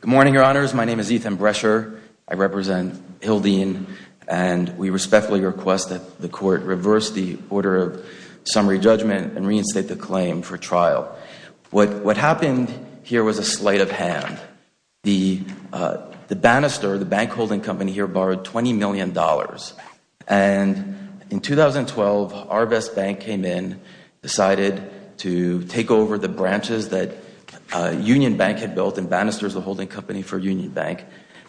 Good morning, Your Honors. My name is Ethan Brescher. I represent Hildene, and we respectfully request that the Court reverse the order of summary judgment and reinstate the claim for trial. What happened here was a sleight of hand. The banister, the bank holding company here borrowed $20 million. And in 2012, Arvest Bank came in, decided to take over the branches that Union Bank had built, and Banister is the holding company for Union Bank.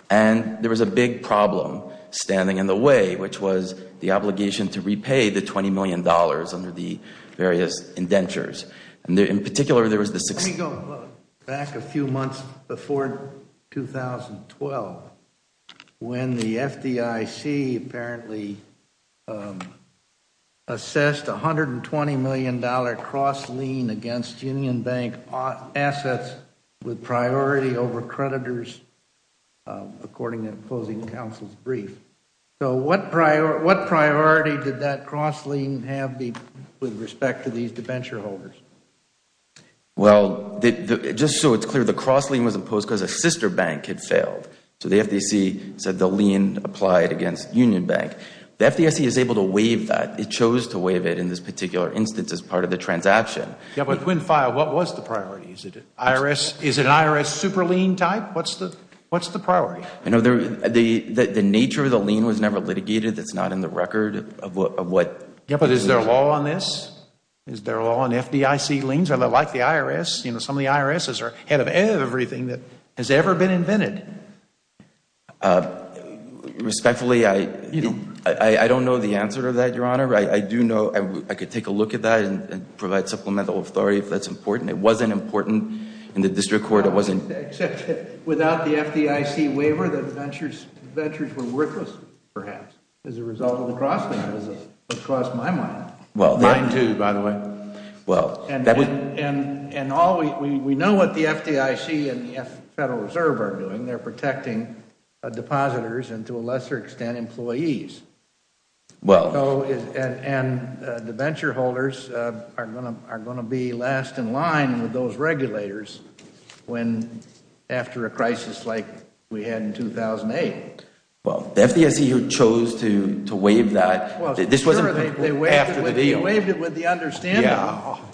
And there was a big problem standing in the way, which was the obligation to repay the $20 million under the various indentures. And in particular, there was the Let me go back a few months before 2012, when the FDIC apparently assessed a $120 million cross lien against Union Bank assets with priority over creditors, according to the closing counsel's brief. So what priority did that cross lien have with respect to these debenture holders? Well, just so it is clear, the cross lien was imposed because a sister bank had failed. So the FDIC said the lien applied against Union Bank. The FDIC is able to waive that. It chose to waive it in this particular instance as part of the transaction. Yes, but when filed, what was the priority? Is it an IRS super lien type? What is the priority? I know the nature of the lien was never litigated. It is not in the record of what Yes, but is there a law on this? Is there a law on FDIC liens? Are they like the IRS? You know, some of the IRSs are head of everything that has ever been invented. Respectfully, I don't know the answer to that, Your Honor. I do know I could take a look at that and provide supplemental authority if that is important. It wasn't important in the district court. Except that without the FDIC waiver, the ventures were worthless, perhaps, as a result of the cross lien. That is what cost my money. Mine too, by the way. We know what the FDIC and the Federal Reserve are doing. They are protecting depositors and, to a lesser extent, employees. The venture holders are going to be last in line with those regulators after a crisis like we had in 2008. The FDIC chose to waive that after the deal. They waived it with the understanding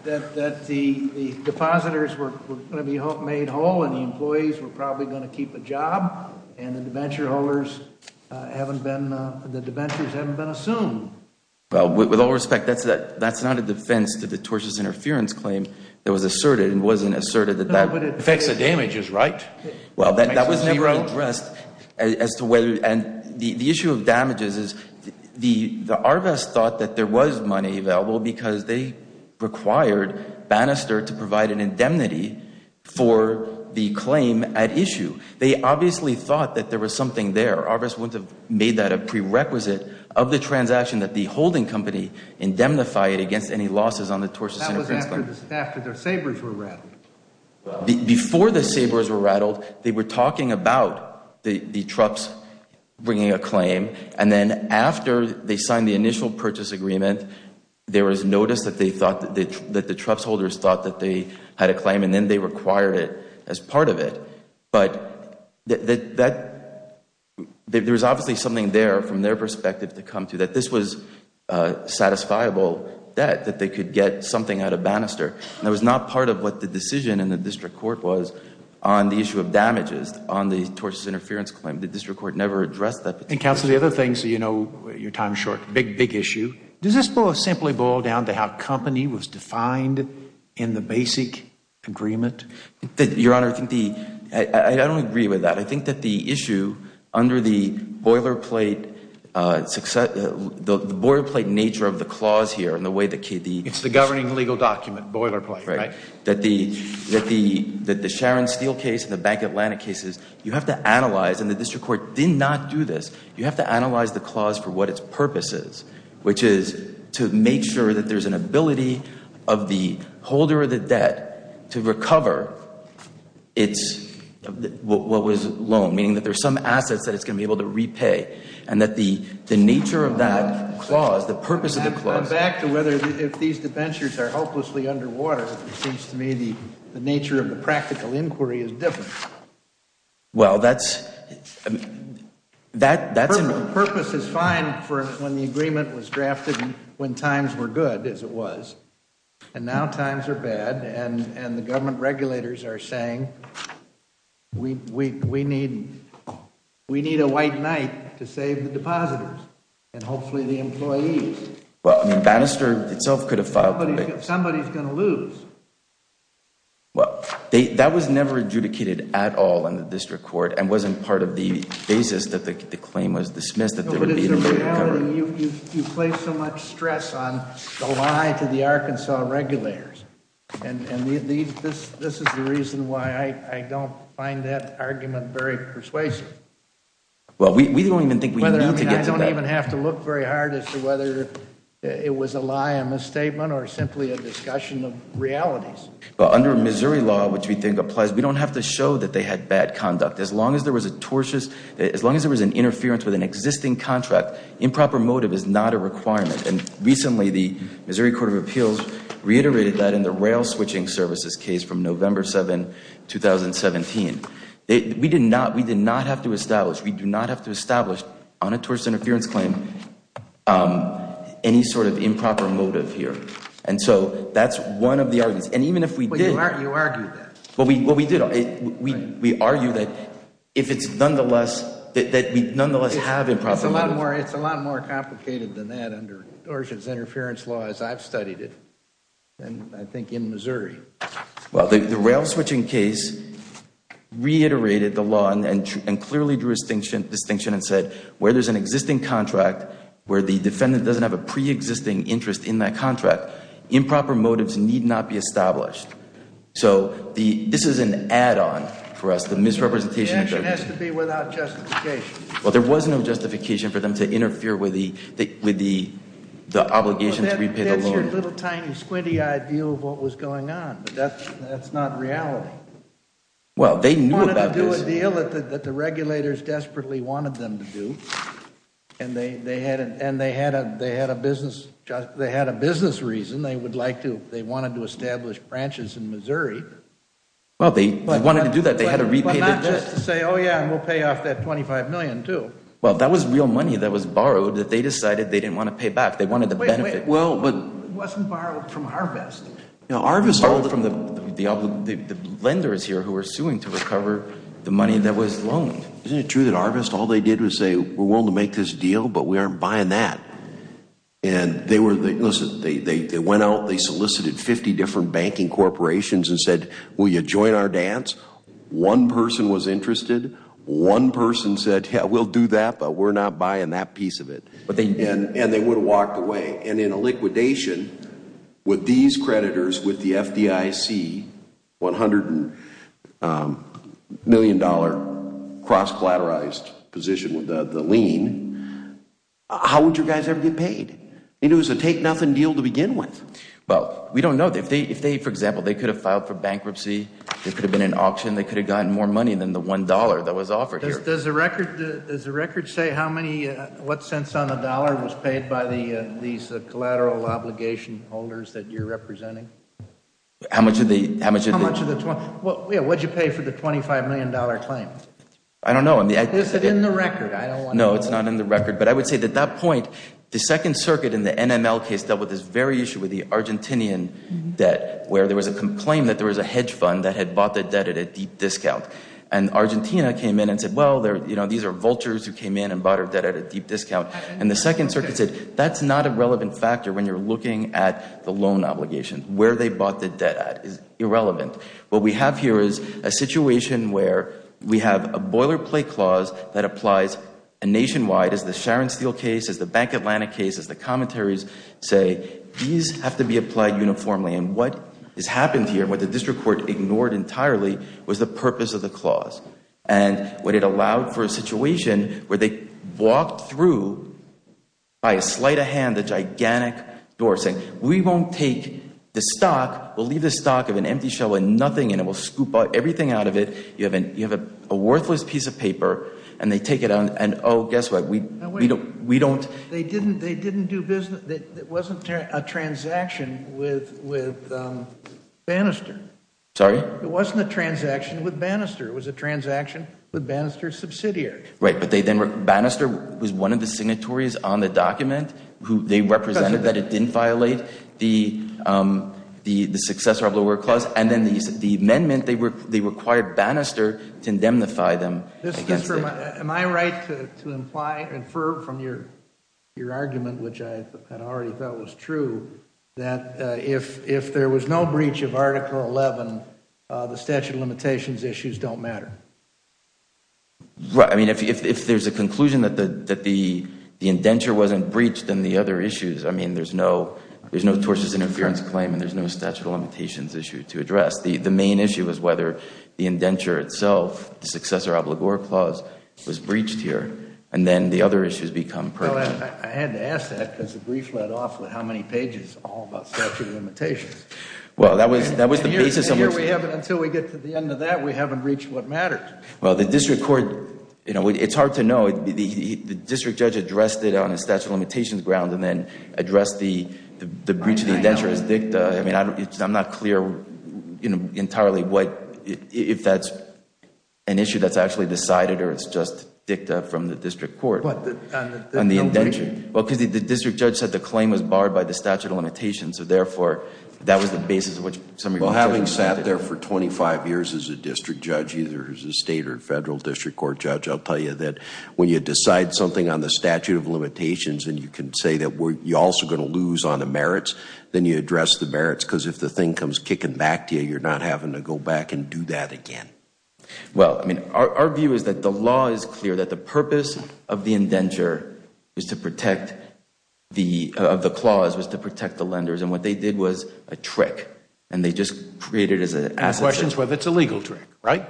that the depositors were going to be made whole and the employees were probably going to keep a job and the ventures haven't been assumed. With all respect, that is not a defense to the tortious interference claim that was asserted. It wasn't asserted that that affects the damages, right? That was never addressed. The issue of damages is the ARVAS thought that there was money available because they required Bannister to provide an indemnity for the claim at issue. They obviously thought that there was something there. ARVAS wouldn't have made that a prerequisite of the transaction that the holding company indemnified against any losses on the tortious interference claim. That was after their sabers were rattled. Before the sabers were rattled, they were talking about the trucks bringing a claim and then after they signed the initial purchase agreement, there was notice that the trucks holders thought that they had a claim and then they required it as part of it. But there was obviously something there from their perspective to come to that this was a satisfiable debt that they could get something out of Bannister. That was not part of what the decision in the district court was on the issue of damages on the tortious interference claim. The district court never addressed that. Counsel, the other thing, so you know your time is short, big, big issue. Does this simply boil down to how company was defined in the basic agreement? Your Honor, I don't agree with that. I think that the issue under the boilerplate nature of the clause here and the way that the Sharon Steele case and the Bank Atlantic cases, you have to analyze and the district court did not do this. You have to analyze the clause for what its purpose is, which is to make sure that there is an ability of the holder of the debt to recover what was loaned, meaning that there are some assets that it's going to be able to repay. And that the nature of that clause, the purpose of the clause If these debentures are hopelessly underwater, it seems to me the nature of the practical inquiry is different. Well, that's The purpose is fine when the agreement was drafted when times were good, as it was. And now times are bad and the government regulators are saying we need a white knight to save the depositors and hopefully the employees. Well, I mean, Bannister itself could have filed. Somebody is going to lose. Well, that was never adjudicated at all in the district court and wasn't part of the basis that the claim was dismissed. You place so much stress on the lie to the Arkansas regulators. And this is the reason why I don't find that argument very persuasive. Well, we don't even think we need to get to that. I mean, I don't even have to look very hard as to whether it was a lie, a misstatement or simply a discussion of realities. Under Missouri law, which we think applies, we don't have to show that they had bad conduct. As long as there was a tortious, as long as there was an interference with an existing contract, improper motive is not a requirement. And recently, the Missouri Court of Appeals reiterated that in the rail switching services case from November 7, 2017. We did not have to establish, we do not have to establish on a tortious interference claim any sort of improper motive here. And so that's one of the arguments. And even if we did. You argued that. Well, we did. We argued that if it's nonetheless, that we nonetheless have improper motive. It's a lot more complicated than that under tortious interference law as I've studied it. And I think in Missouri. Well, the rail switching case reiterated the law and clearly drew a distinction and said where there's an existing contract, where the defendant doesn't have a pre-existing interest in that contract, improper motives need not be established. So this is an add-on for us, the misrepresentation. The action has to be without justification. Well, there was no justification for them to interfere with the obligation to repay the loan. That's your little, tiny, squinty-eyed view of what was going on. But that's not reality. They wanted to do a deal that the regulators desperately wanted them to do. And they had a business reason. They wanted to establish branches in Missouri. Well, they wanted to do that. They had to repay the debt. But not just to say, oh, yeah, and we'll pay off that $25 million, too. Well, that was real money that was borrowed that they decided they didn't want to pay back. They wanted the benefit. It wasn't borrowed from Arvest. Arvest borrowed from the lenders here who were suing to recover the money that was loaned. Isn't it true that Arvest, all they did was say, we're willing to make this deal, but we aren't buying that? And they were, listen, they went out, they solicited 50 different banking corporations and said, will you join our dance? One person was interested. One person said, yeah, we'll do that, but we're not buying that piece of it. And they would have walked away. And in a liquidation, would these creditors with the FDIC $100 million cross-collateralized position with the lien, how would your guys ever get paid? It was a take-nothing deal to begin with. Well, we don't know. If they, for example, they could have filed for bankruptcy, they could have been in auction, they could have gotten more money than the $1 that was offered here. Does the record say how many, what cents on the dollar was paid by these collateral obligation holders that you're representing? How much of the? How much of the? What did you pay for the $25 million claim? I don't know. Is it in the record? I don't want to know. No, it's not in the record. But I would say at that point, the Second Circuit in the NML case dealt with this very issue with the Argentinian debt, where there was a claim that there was a hedge fund that had bought the debt at a deep discount. And Argentina came in and said, well, these are vultures who came in and bought our debt at a deep discount. And the Second Circuit said, that's not a relevant factor when you're looking at the loan obligation, where they bought the debt at is irrelevant. What we have here is a situation where we have a boilerplate clause that applies nationwide, as the Sharon Steele case, as the Bank Atlantic case, as the commentaries say, these have to be applied uniformly. And what has happened here, what the district court ignored entirely, was the purpose of the clause. And what it allowed for a situation where they walked through by a sleight of hand the gigantic door saying, we won't take the stock. We'll leave the stock of an empty shell with nothing in it. We'll scoop everything out of it. You have a worthless piece of paper. And they take it out. And oh, guess what? We don't. They didn't do business. It wasn't a transaction with Bannister. Sorry? It wasn't a transaction with Bannister. It was a transaction with Bannister's subsidiary. Right. But Bannister was one of the signatories on the document. They represented that it didn't violate the successor of the word clause. And then the amendment, they required Bannister to indemnify them. Am I right to infer from your argument, which I had already thought was true, that if there was no breach of Article 11, the statute of limitations issues don't matter? Right. I mean, if there's a conclusion that the indenture wasn't breached and the other issues, I mean, there's no tortious interference claim and there's no statute of limitations issue to address. The main issue is whether the indenture itself, the successor of the word clause, was breached here. And then the other issues become pertinent. I had to ask that because the brief led off with how many pages all about statute of limitations. Well, that was the basis of it. Until we get to the end of that, we haven't reached what matters. Well, the district court, you know, it's hard to know. The district judge addressed it on a statute of limitations ground and then addressed the breach of the indenture as dicta. I mean, I'm not clear, you know, entirely what, if that's an issue that's actually decided or it's just dicta from the district court on the indenture. Well, because the district judge said the claim was barred by the statute of limitations. So, therefore, that was the basis of which some of your judgment. Well, having sat there for 25 years as a district judge, either as a state or federal district court judge, I'll tell you that when you decide something on the statute of limitations and you can say that we're also going to lose on the merits, then you address the merits because if the thing comes kicking back to you, you're not having to go back and do that again. Well, I mean, our view is that the law is clear that the purpose of the indenture is to protect the, of the clause was to protect the lenders. And what they did was a trick. And they just created as an asset. The question is whether it's a legal trick, right?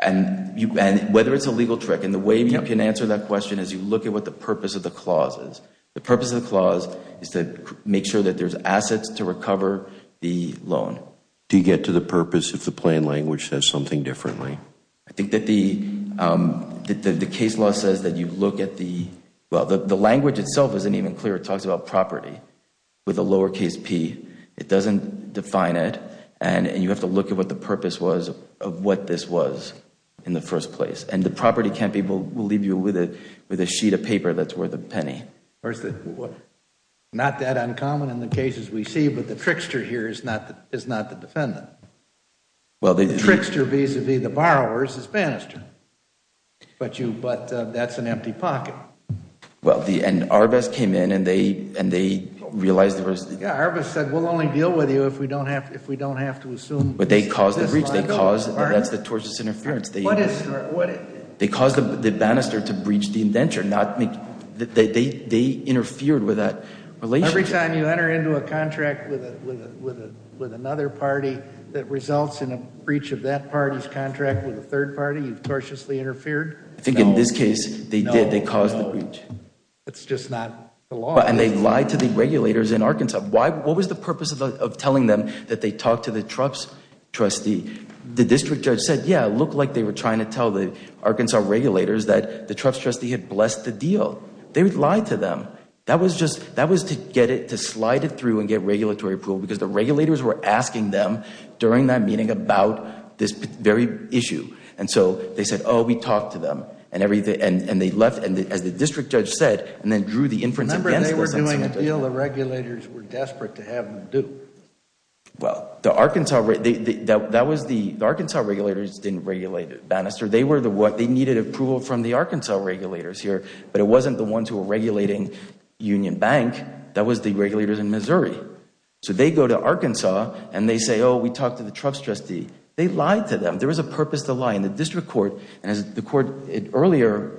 And whether it's a legal trick. And the way you can answer that question is you look at what the purpose of the clause is. The purpose of the clause is to make sure that there's assets to recover the loan. Do you get to the purpose if the plain language says something differently? I think that the case law says that you look at the, well, the language itself isn't even clear. It talks about property with a lowercase p. It doesn't define it. And you have to look at what the purpose was of what this was in the first place. And the property campaign will leave you with a sheet of paper that's worth a penny. Not that uncommon in the cases we see. But the trickster here is not the defendant. The trickster vis-a-vis the borrowers is Bannister. But that's an empty pocket. And Arbus came in and they realized there was... Yeah, Arbus said we'll only deal with you if we don't have to assume... But they caused the breach. That's the tortious interference. They caused Bannister to breach the indenture. They interfered with that relationship. Every time you enter into a contract with another party that results in a breach of that party's contract with a third party, you've tortiously interfered? I think in this case they did. They caused the breach. That's just not the law. And they lied to the regulators in Arkansas. What was the purpose of telling them that they talked to the Trump's trustee? The district judge said, yeah, it looked like they were trying to tell the Arkansas regulators that the Trump's trustee had blessed the deal. They would lie to them. That was just... that was to get it... to slide it through and get regulatory approval because the regulators were asking them during that meeting about this very issue. And so they said, oh, we talked to them. And everything... and they left. Remember they were doing a deal the regulators were desperate to have them do. Well, the Arkansas... that was the... the Arkansas regulators didn't regulate Bannister. They were the ones... they needed approval from the Arkansas regulators here. But it wasn't the ones who were regulating Union Bank. That was the regulators in Missouri. So they go to Arkansas and they say, oh, we talked to the Trump's trustee. They lied to them. There was a purpose to lying. The district court... and as the court earlier...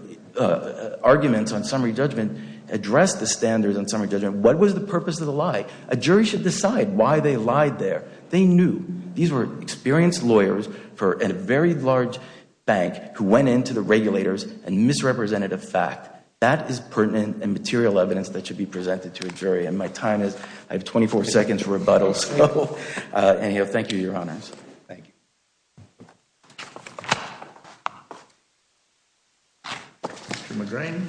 arguments on summary judgment addressed the standards on summary judgment. What was the purpose of the lie? A jury should decide why they lied there. They knew. These were experienced lawyers for a very large bank who went into the regulators and misrepresented a fact. That is pertinent and material evidence that should be presented to a jury. And my time is... I have 24 seconds for rebuttal. So... anyhow, thank you, Your Honors. Thank you. Mr. McGrane.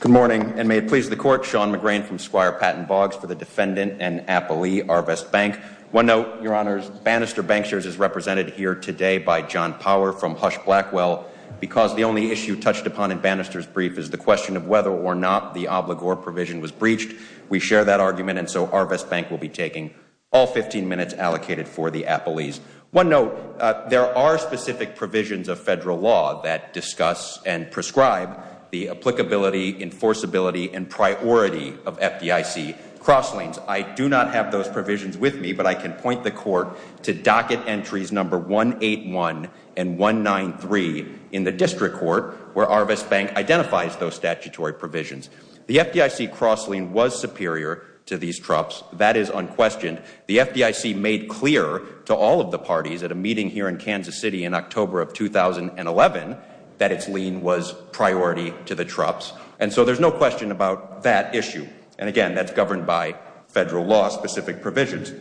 Good morning and may it please the court. Sean McGrane from Squire Patent Bogs for the defendant and appellee, Arvest Bank. One note, Your Honors. Bannister Banksters is represented here today by John Power from Hush Blackwell. Because the only issue touched upon in Bannister's brief is the question of whether or not the obligor provision was breached, we share that argument and so Arvest Bank will be taking all 15 minutes allocated for the appellees. One note, there are specific provisions of federal law that discuss and prescribe the applicability, enforceability, and priority of FDIC cross lanes. I do not have those provisions with me, but I can point the court to docket entries number 181 and 193 in the district court where Arvest Bank identifies those statutory provisions. The FDIC cross lane was superior to these troughs. That is unquestioned. The FDIC made clear to all of the parties at a meeting here in Kansas City in October of 2011 that its lane was priority to the troughs. And so there's no question about that issue. And again, that's governed by federal law specific provisions.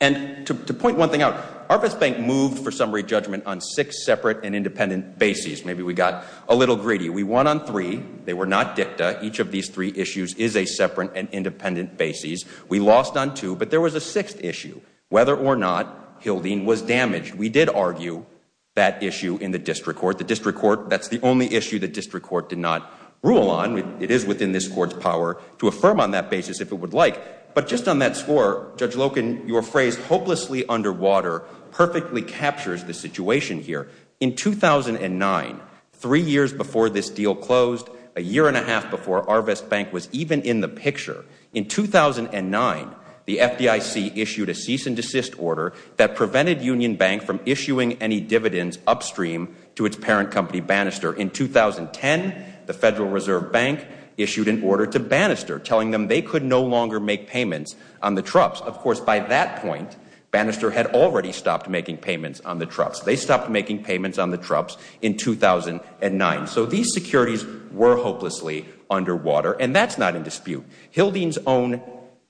And to point one thing out, Arvest Bank moved for summary judgment on six separate and independent bases. Maybe we got a little greedy. We won on three. They were not dicta. Each of these three issues is a separate and independent bases. We lost on two, but there was a sixth issue. Whether or not Hildyne was damaged, we did argue that issue in the district court. The district court, that's the only issue the district court did not rule on. It is within this court's power to affirm on that basis if it would like. But just on that score, Judge Loken, your phrase, hopelessly underwater, perfectly captures the situation here. In 2009, three years before this deal closed, a year and a half before Arvest Bank was even in the picture, in 2009, the FDIC issued a cease and desist order that prevented Union Bank from issuing any dividends upstream to its parent company, Bannister. In 2010, the Federal Reserve Bank issued an order to Bannister telling them they could no longer make payments on the troughs. Of course, by that point, Bannister had already stopped making payments on the troughs. They stopped making payments on the troughs in 2009. So these securities were hopelessly underwater, and that's not in dispute. Hildyne's own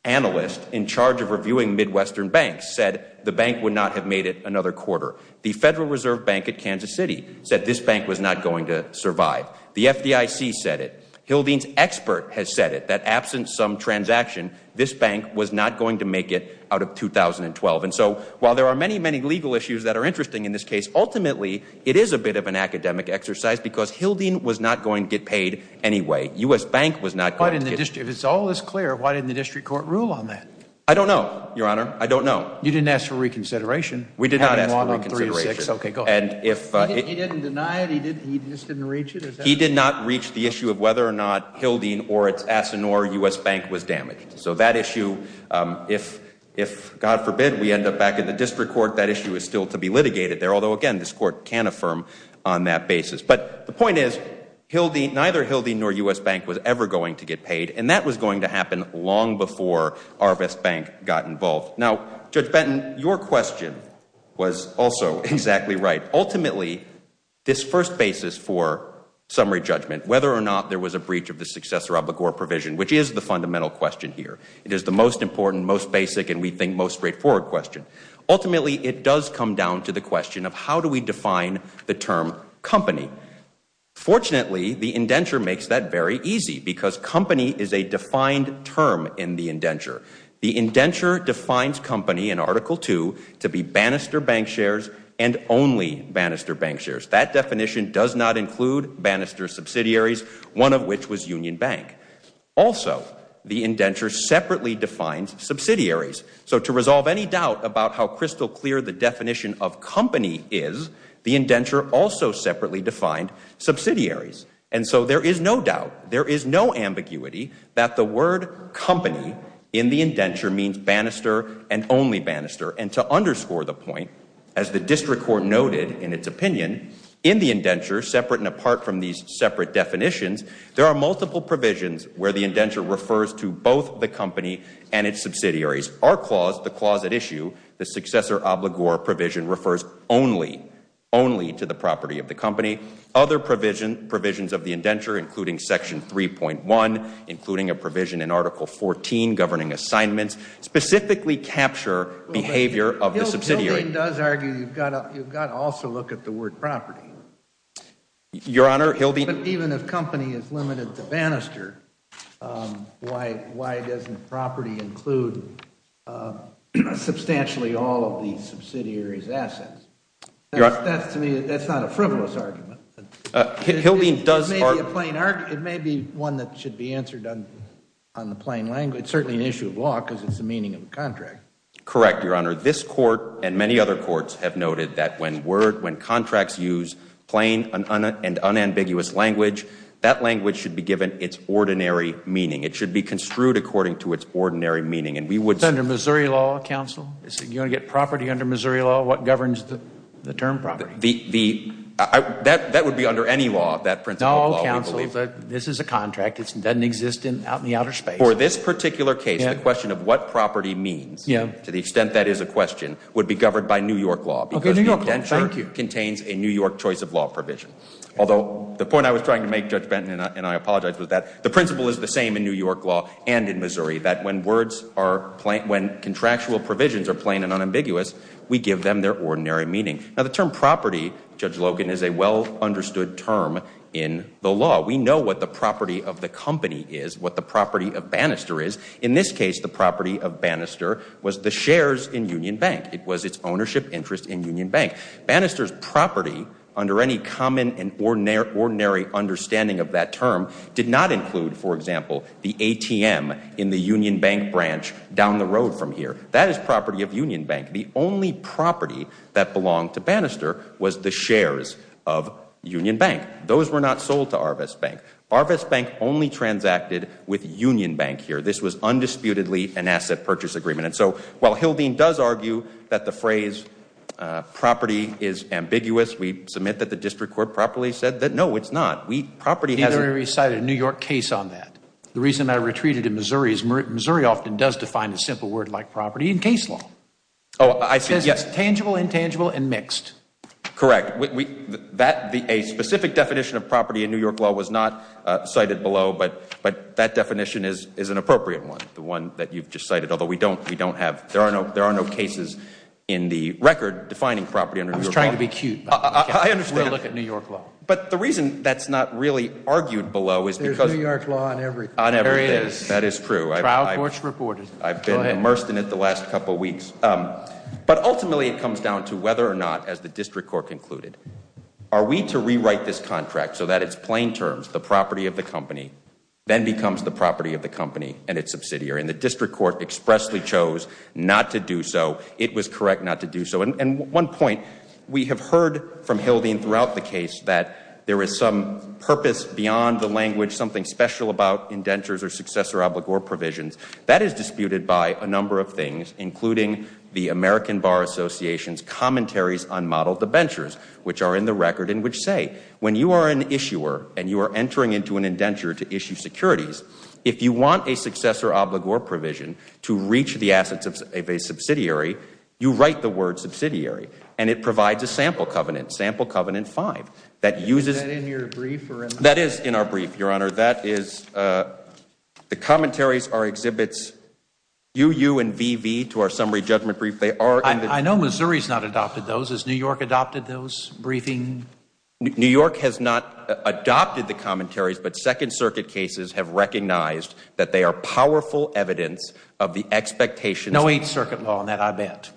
analyst in charge of reviewing Midwestern banks said the bank would not have made it another quarter. The Federal Reserve Bank at Kansas City said this bank was not going to survive. The FDIC said it. Hildyne's expert has said it, that absent some transaction, this bank was not going to make it out of 2012. And so while there are many, many legal issues that are interesting in this case, ultimately, it is a bit of an academic exercise because Hildyne was not going to get paid anyway. If it's all this clear, why didn't the district court rule on that? I don't know, Your Honor. I don't know. You didn't ask for reconsideration. We did not ask for reconsideration. Okay, go ahead. He didn't deny it? He just didn't reach it? He did not reach the issue of whether or not Hildyne or its asset nor U.S. Bank was damaged. So that issue, if, God forbid, we end up back in the district court, that issue is still to be litigated there, although, again, this court can't affirm on that basis. But the point is, neither Hildyne nor U.S. Bank was ever going to get paid, and that was going to happen long before Arvest Bank got involved. Now, Judge Benton, your question was also exactly right. Ultimately, this first basis for summary judgment, whether or not there was a breach of the successor obligor provision, which is the fundamental question here. It is the most important, most basic, and we think most straightforward question. Ultimately, it does come down to the question of how do we define the term company. Fortunately, the indenture makes that very easy because company is a defined term in the indenture. The indenture defines company in Article II to be Bannister Bank shares and only Bannister Bank shares. That definition does not include Bannister subsidiaries, one of which was Union Bank. Also, the indenture separately defines subsidiaries. So to resolve any doubt about how crystal clear the definition of company is, the indenture also separately defined subsidiaries. And so there is no doubt, there is no ambiguity that the word company in the indenture means Bannister and only Bannister. And to underscore the point, as the district court noted in its opinion, in the indenture, separate and apart from these separate definitions, there are multiple provisions where the indenture refers to both the company and its subsidiaries. Our clause, the clause at issue, the successor obligor provision, refers only to the property of the company. Other provisions of the indenture, including Section 3.1, including a provision in Article XIV governing assignments, specifically capture behavior of the subsidiary. Hildy does argue you've got to also look at the word property. Your Honor, Hildy Even if company is limited to Bannister, why doesn't property include substantially all of the subsidiary's assets? Your Honor That's to me, that's not a frivolous argument. Hildy does argue It may be one that should be answered on the plain language, certainly an issue of law, because it's the meaning of the contract. Correct, Your Honor. This court and many other courts have noted that when contracts use plain and unambiguous language, that language should be given its ordinary meaning. It should be construed according to its ordinary meaning. It's under Missouri law, counsel. You want to get property under Missouri law, what governs the term property? That would be under any law, that principle of law. No, counsel, this is a contract. It doesn't exist out in the outer space. For this particular case, the question of what property means, to the extent that is a question, would be governed by New York law because the indenture contains a New York choice of law provision. Although, the point I was trying to make, Judge Benton, and I apologize for that, the principle is the same in New York law and in Missouri, that when contractual provisions are plain and unambiguous, we give them their ordinary meaning. Now, the term property, Judge Logan, is a well-understood term in the law. We know what the property of the company is, what the property of Bannister is. In this case, the property of Bannister was the shares in Union Bank. It was its ownership interest in Union Bank. Bannister's property, under any common and ordinary understanding of that term, did not include, for example, the ATM in the Union Bank branch down the road from here. That is property of Union Bank. The only property that belonged to Bannister was the shares of Union Bank. Those were not sold to Arvest Bank. Arvest Bank only transacted with Union Bank here. This was undisputedly an asset purchase agreement. And so, while Hildeen does argue that the phrase property is ambiguous, we submit that the district court properly said that no, it's not. Property has a ñ Neither have we recited a New York case on that. The reason I retreated to Missouri is Missouri often does define a simple word like property in case law. It says it's tangible, intangible, and mixed. Correct. A specific definition of property in New York law was not cited below, but that definition is an appropriate one, the one that you've just cited, although we don't have ñ there are no cases in the record defining property under New York law. I was trying to be cute. I understand. We'll look at New York law. But the reason that's not really argued below is because ñ There's New York law on everything. There is. That is true. Trial court's reported. I've been immersed in it the last couple weeks. But ultimately it comes down to whether or not, as the district court concluded, are we to rewrite this contract so that it's plain terms, the property of the company, then becomes the property of the company and its subsidiary. And the district court expressly chose not to do so. It was correct not to do so. And one point, we have heard from Hildy and throughout the case that there is some purpose beyond the language, something special about indentures or successor obligor provisions. That is disputed by a number of things, including the American Bar Association's commentaries on model debentures, which are in the record and which say, when you are an issuer and you are entering into an indenture to issue securities, if you want a successor obligor provision to reach the assets of a subsidiary, you write the word subsidiary. And it provides a sample covenant, Sample Covenant 5, that uses ñ Is that in your brief? That is in our brief, Your Honor. That is the commentaries are exhibits UU and VV to our summary judgment brief. I know Missouri has not adopted those. Has New York adopted those briefing? New York has not adopted the commentaries, but Second Circuit cases have recognized that they are powerful evidence of the expectations ñ No Eighth Circuit law on that, I bet.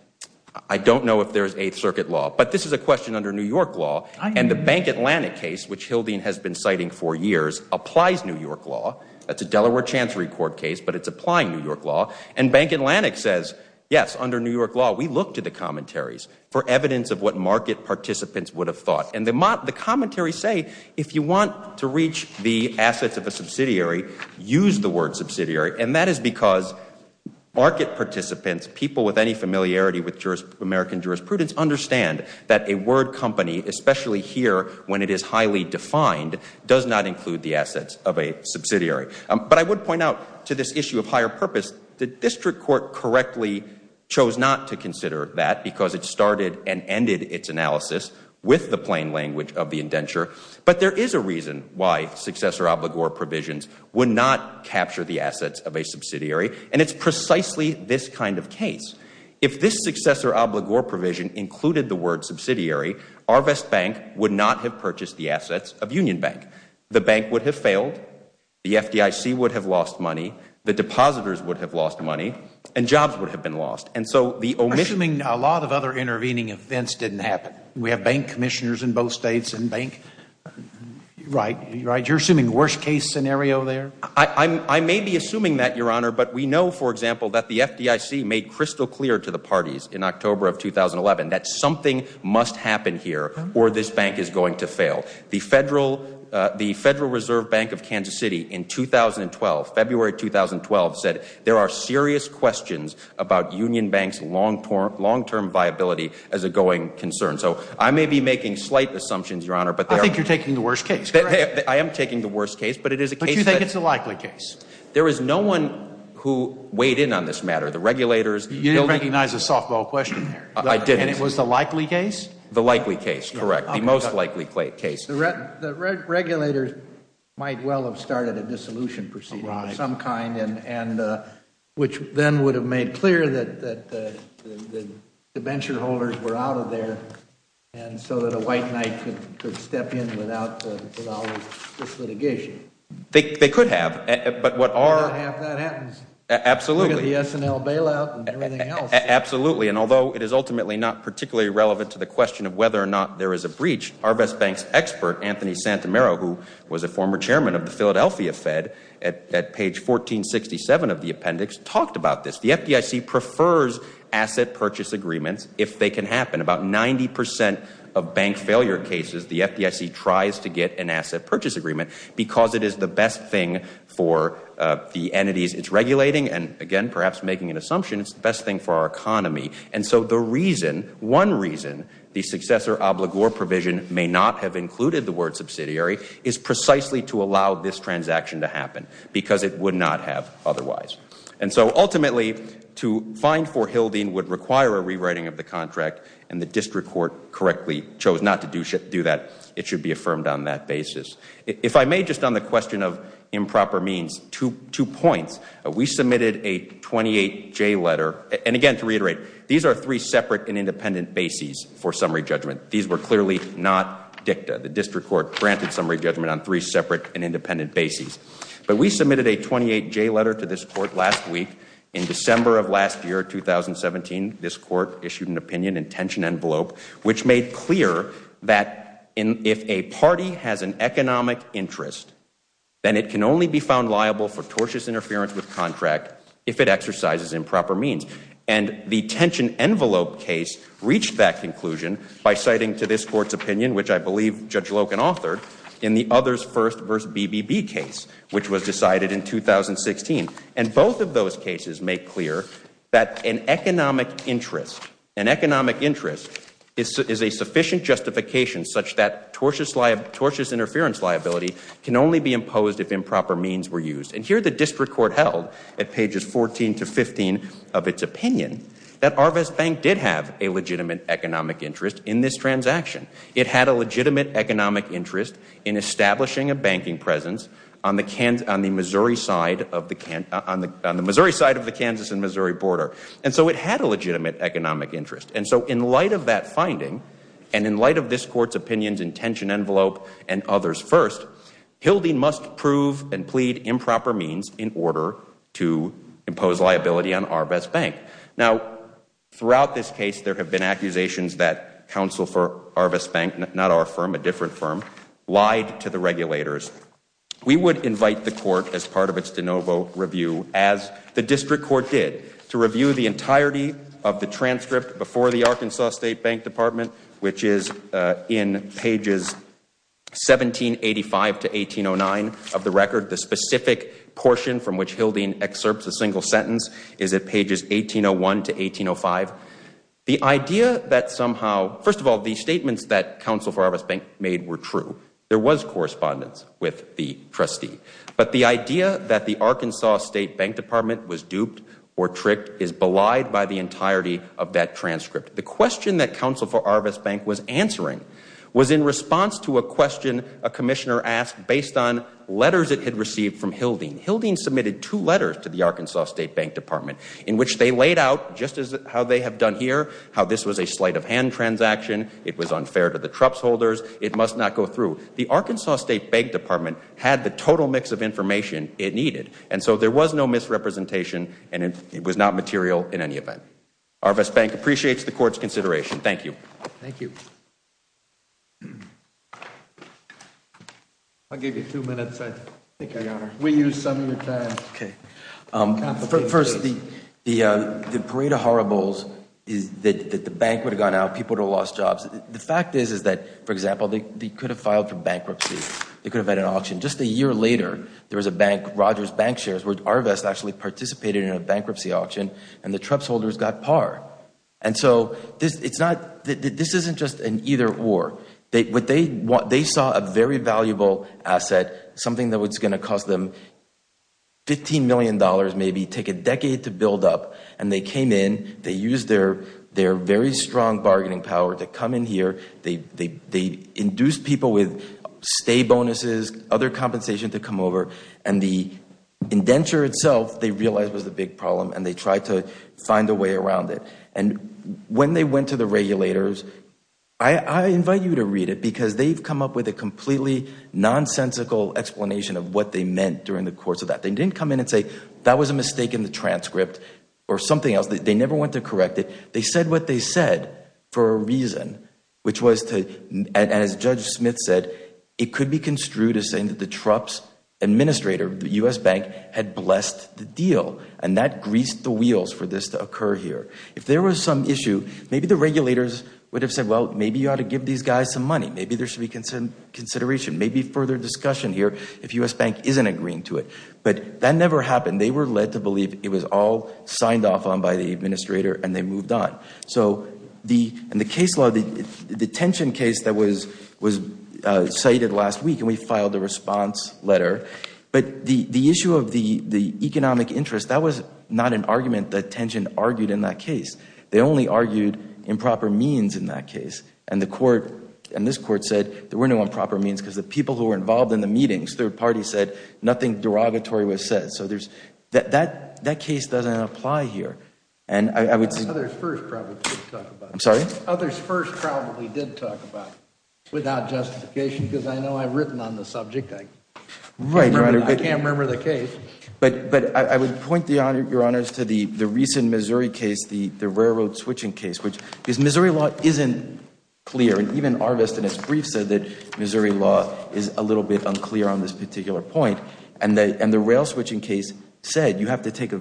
I don't know if there is Eighth Circuit law. But this is a question under New York law. And the Bank Atlantic case, which Hildeen has been citing for years, applies New York law. That is a Delaware Chancery Court case, but it is applying New York law. And Bank Atlantic says, yes, under New York law, we look to the commentaries for evidence of what market participants would have thought. And the commentaries say, if you want to reach the assets of a subsidiary, use the word subsidiary, and that is because market participants, people with any familiarity with American jurisprudence, understand that a word company, especially here when it is highly defined, does not include the assets of a subsidiary. But I would point out to this issue of higher purpose, the district court correctly chose not to consider that because it started and ended its analysis with the plain language of the indenture. But there is a reason why successor obligor provisions would not capture the assets of a subsidiary, and it is precisely this kind of case. If this successor obligor provision included the word subsidiary, Arvest Bank would not have purchased the assets of Union Bank. The bank would have failed, the FDIC would have lost money, the depositors would have lost money, and jobs would have been lost. And so the omission Assuming a lot of other intervening events didn't happen. We have bank commissioners in both States and bank, right? You are assuming worst case scenario there? I may be assuming that, Your Honor, but we know, for example, that the FDIC made crystal clear to the parties in October of 2011 that something must happen here or this bank is going to fail. The Federal Reserve Bank of Kansas City in 2012, February 2012, said there are serious questions about Union Bank's long-term viability as a going concern. So I may be making slight assumptions, Your Honor, but they are I think you're taking the worst case, correct? I am taking the worst case, but it is a case that But you think it's a likely case? There is no one who weighed in on this matter. The regulators, the building You didn't recognize the softball question there. I didn't. And it was the likely case? The likely case, correct. The most likely case. The regulators might well have started a dissolution proceeding of some kind, which then would have made clear that the venture holders were out of there and so that a white knight could step in without all this litigation. They could have, but what our If that happens. Absolutely. Look at the S&L bailout and everything else. Absolutely, and although it is ultimately not particularly relevant to the question of whether or not there is a breach, Arvest Bank's expert, Anthony Santomero, who was a former chairman of the Philadelphia Fed at page 1467 of the appendix, talked about this. The FDIC prefers asset purchase agreements if they can happen. About 90 percent of bank failure cases, the FDIC tries to get an asset purchase agreement because it is the best thing for the entities it's regulating and, again, perhaps making an assumption, it's the best thing for our economy. And so the reason, one reason, the successor obligor provision may not have included the word subsidiary is precisely to allow this transaction to happen because it would not have otherwise. And so, ultimately, to find for Hildeen would require a rewriting of the contract and the district court correctly chose not to do that. It should be affirmed on that basis. If I may, just on the question of improper means, two points. We submitted a 28-J letter. And, again, to reiterate, these are three separate and independent bases for summary judgment. These were clearly not dicta. The district court granted summary judgment on three separate and independent bases. But we submitted a 28-J letter to this court last week. In December of last year, 2017, this court issued an opinion intention envelope, which made clear that if a party has an economic interest, then it can only be found liable for tortious interference with contract if it exercises improper means. And the tension envelope case reached that conclusion by citing to this court's opinion, which I believe Judge Loken authored, in the Others First v. BBB case, which was decided in 2016. And both of those cases make clear that an economic interest, an economic interest is a sufficient justification such that tortious interference liability can only be imposed if improper means were used. And here the district court held, at pages 14 to 15 of its opinion, that Arvaz Bank did have a legitimate economic interest in this transaction. It had a legitimate economic interest in establishing a banking presence on the Missouri side of the Kansas and Missouri border. And so it had a legitimate economic interest. And so in light of that finding, and in light of this court's opinions intention envelope and Others First, Hildy must prove and plead improper means in order to impose liability on Arvaz Bank. Now, throughout this case, there have been accusations that counsel for Arvaz Bank, not our firm, a different firm, lied to the regulators. We would invite the court, as part of its de novo review, as the district court did, to review the entirety of the transcript before the Arkansas State Bank Department, which is in pages 1785 to 1809 of the record. The specific portion from which Hildy excerpts a single sentence is at pages 1801 to 1805. The idea that somehow, first of all, the statements that counsel for Arvaz Bank made were true. There was correspondence with the trustee. But the idea that the Arkansas State Bank Department was duped or tricked is belied by the entirety of that transcript. The question that counsel for Arvaz Bank was answering was in response to a question a commissioner asked based on letters it had received from Hildy. Hildy submitted two letters to the Arkansas State Bank Department in which they laid out, just as how they have done here, how this was a sleight-of-hand transaction, it was unfair to the trups holders, it must not go through. The Arkansas State Bank Department had the total mix of information it needed. And so there was no misrepresentation and it was not material in any event. Arvaz Bank appreciates the court's consideration. Thank you. Thank you. First, the parade of horribles is that the bank would have gone out, people would have lost jobs. The fact is that, for example, they could have filed for bankruptcy. They could have had an auction. Just a year later, there was a bank, Rogers Bank Shares, where Arvaz actually participated in a bankruptcy auction and the trups holders got par. And so this isn't just an either-or. They saw a very valuable asset, something that was going to cost them $15 million maybe, take a decade to build up, and they came in, they used their very strong bargaining power to come in here, they induced people with stay bonuses, other compensation to come over, and the indenture itself they realized was a big problem and they tried to find a way around it. And when they went to the regulators, I invite you to read it because they've come up with a completely nonsensical explanation of what they meant during the course of that. They didn't come in and say, that was a mistake in the transcript or something else. They never went to correct it. They said what they said for a reason, which was to, as Judge Smith said, it could be construed as saying that the trups administrator, the U.S. Bank, had blessed the deal and that greased the wheels for this to occur here. If there was some issue, maybe the regulators would have said, well, maybe you ought to give these guys some money. Maybe there should be consideration. Maybe further discussion here if U.S. Bank isn't agreeing to it. But that never happened. They were led to believe it was all signed off on by the administrator and they moved on. In the case law, the detention case that was cited last week, and we filed a response letter, but the issue of the economic interest, that was not an argument that Tension argued in that case. They only argued improper means in that case. And this Court said there were no improper means because the people who were involved in the meetings, third parties, said nothing derogatory was said. So that case doesn't apply here. Others first probably did talk about it. I'm sorry? Others first probably did talk about it without justification because I know I've written on the subject. I can't remember the case. But I would point, Your Honors, to the recent Missouri case, the railroad switching case. Because Missouri law isn't clear, and even Arvist in his brief said that Missouri law is a little bit unclear on this particular point. And the rail switching case said you have to take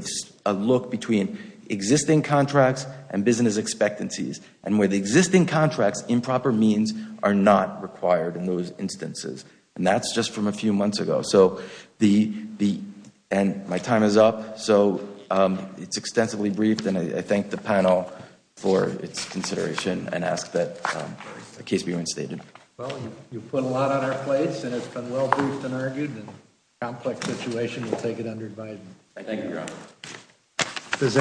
a look between existing contracts and business expectancies. And with existing contracts, improper means are not required in those instances. And that's just from a few months ago. And my time is up. So it's extensively briefed, and I thank the panel for its consideration and ask that the case be reinstated. Well, you've put a lot on our plates, and it's been well-briefed and argued, and in a complex situation, we'll take it under advisement. Thank you, Your Honor.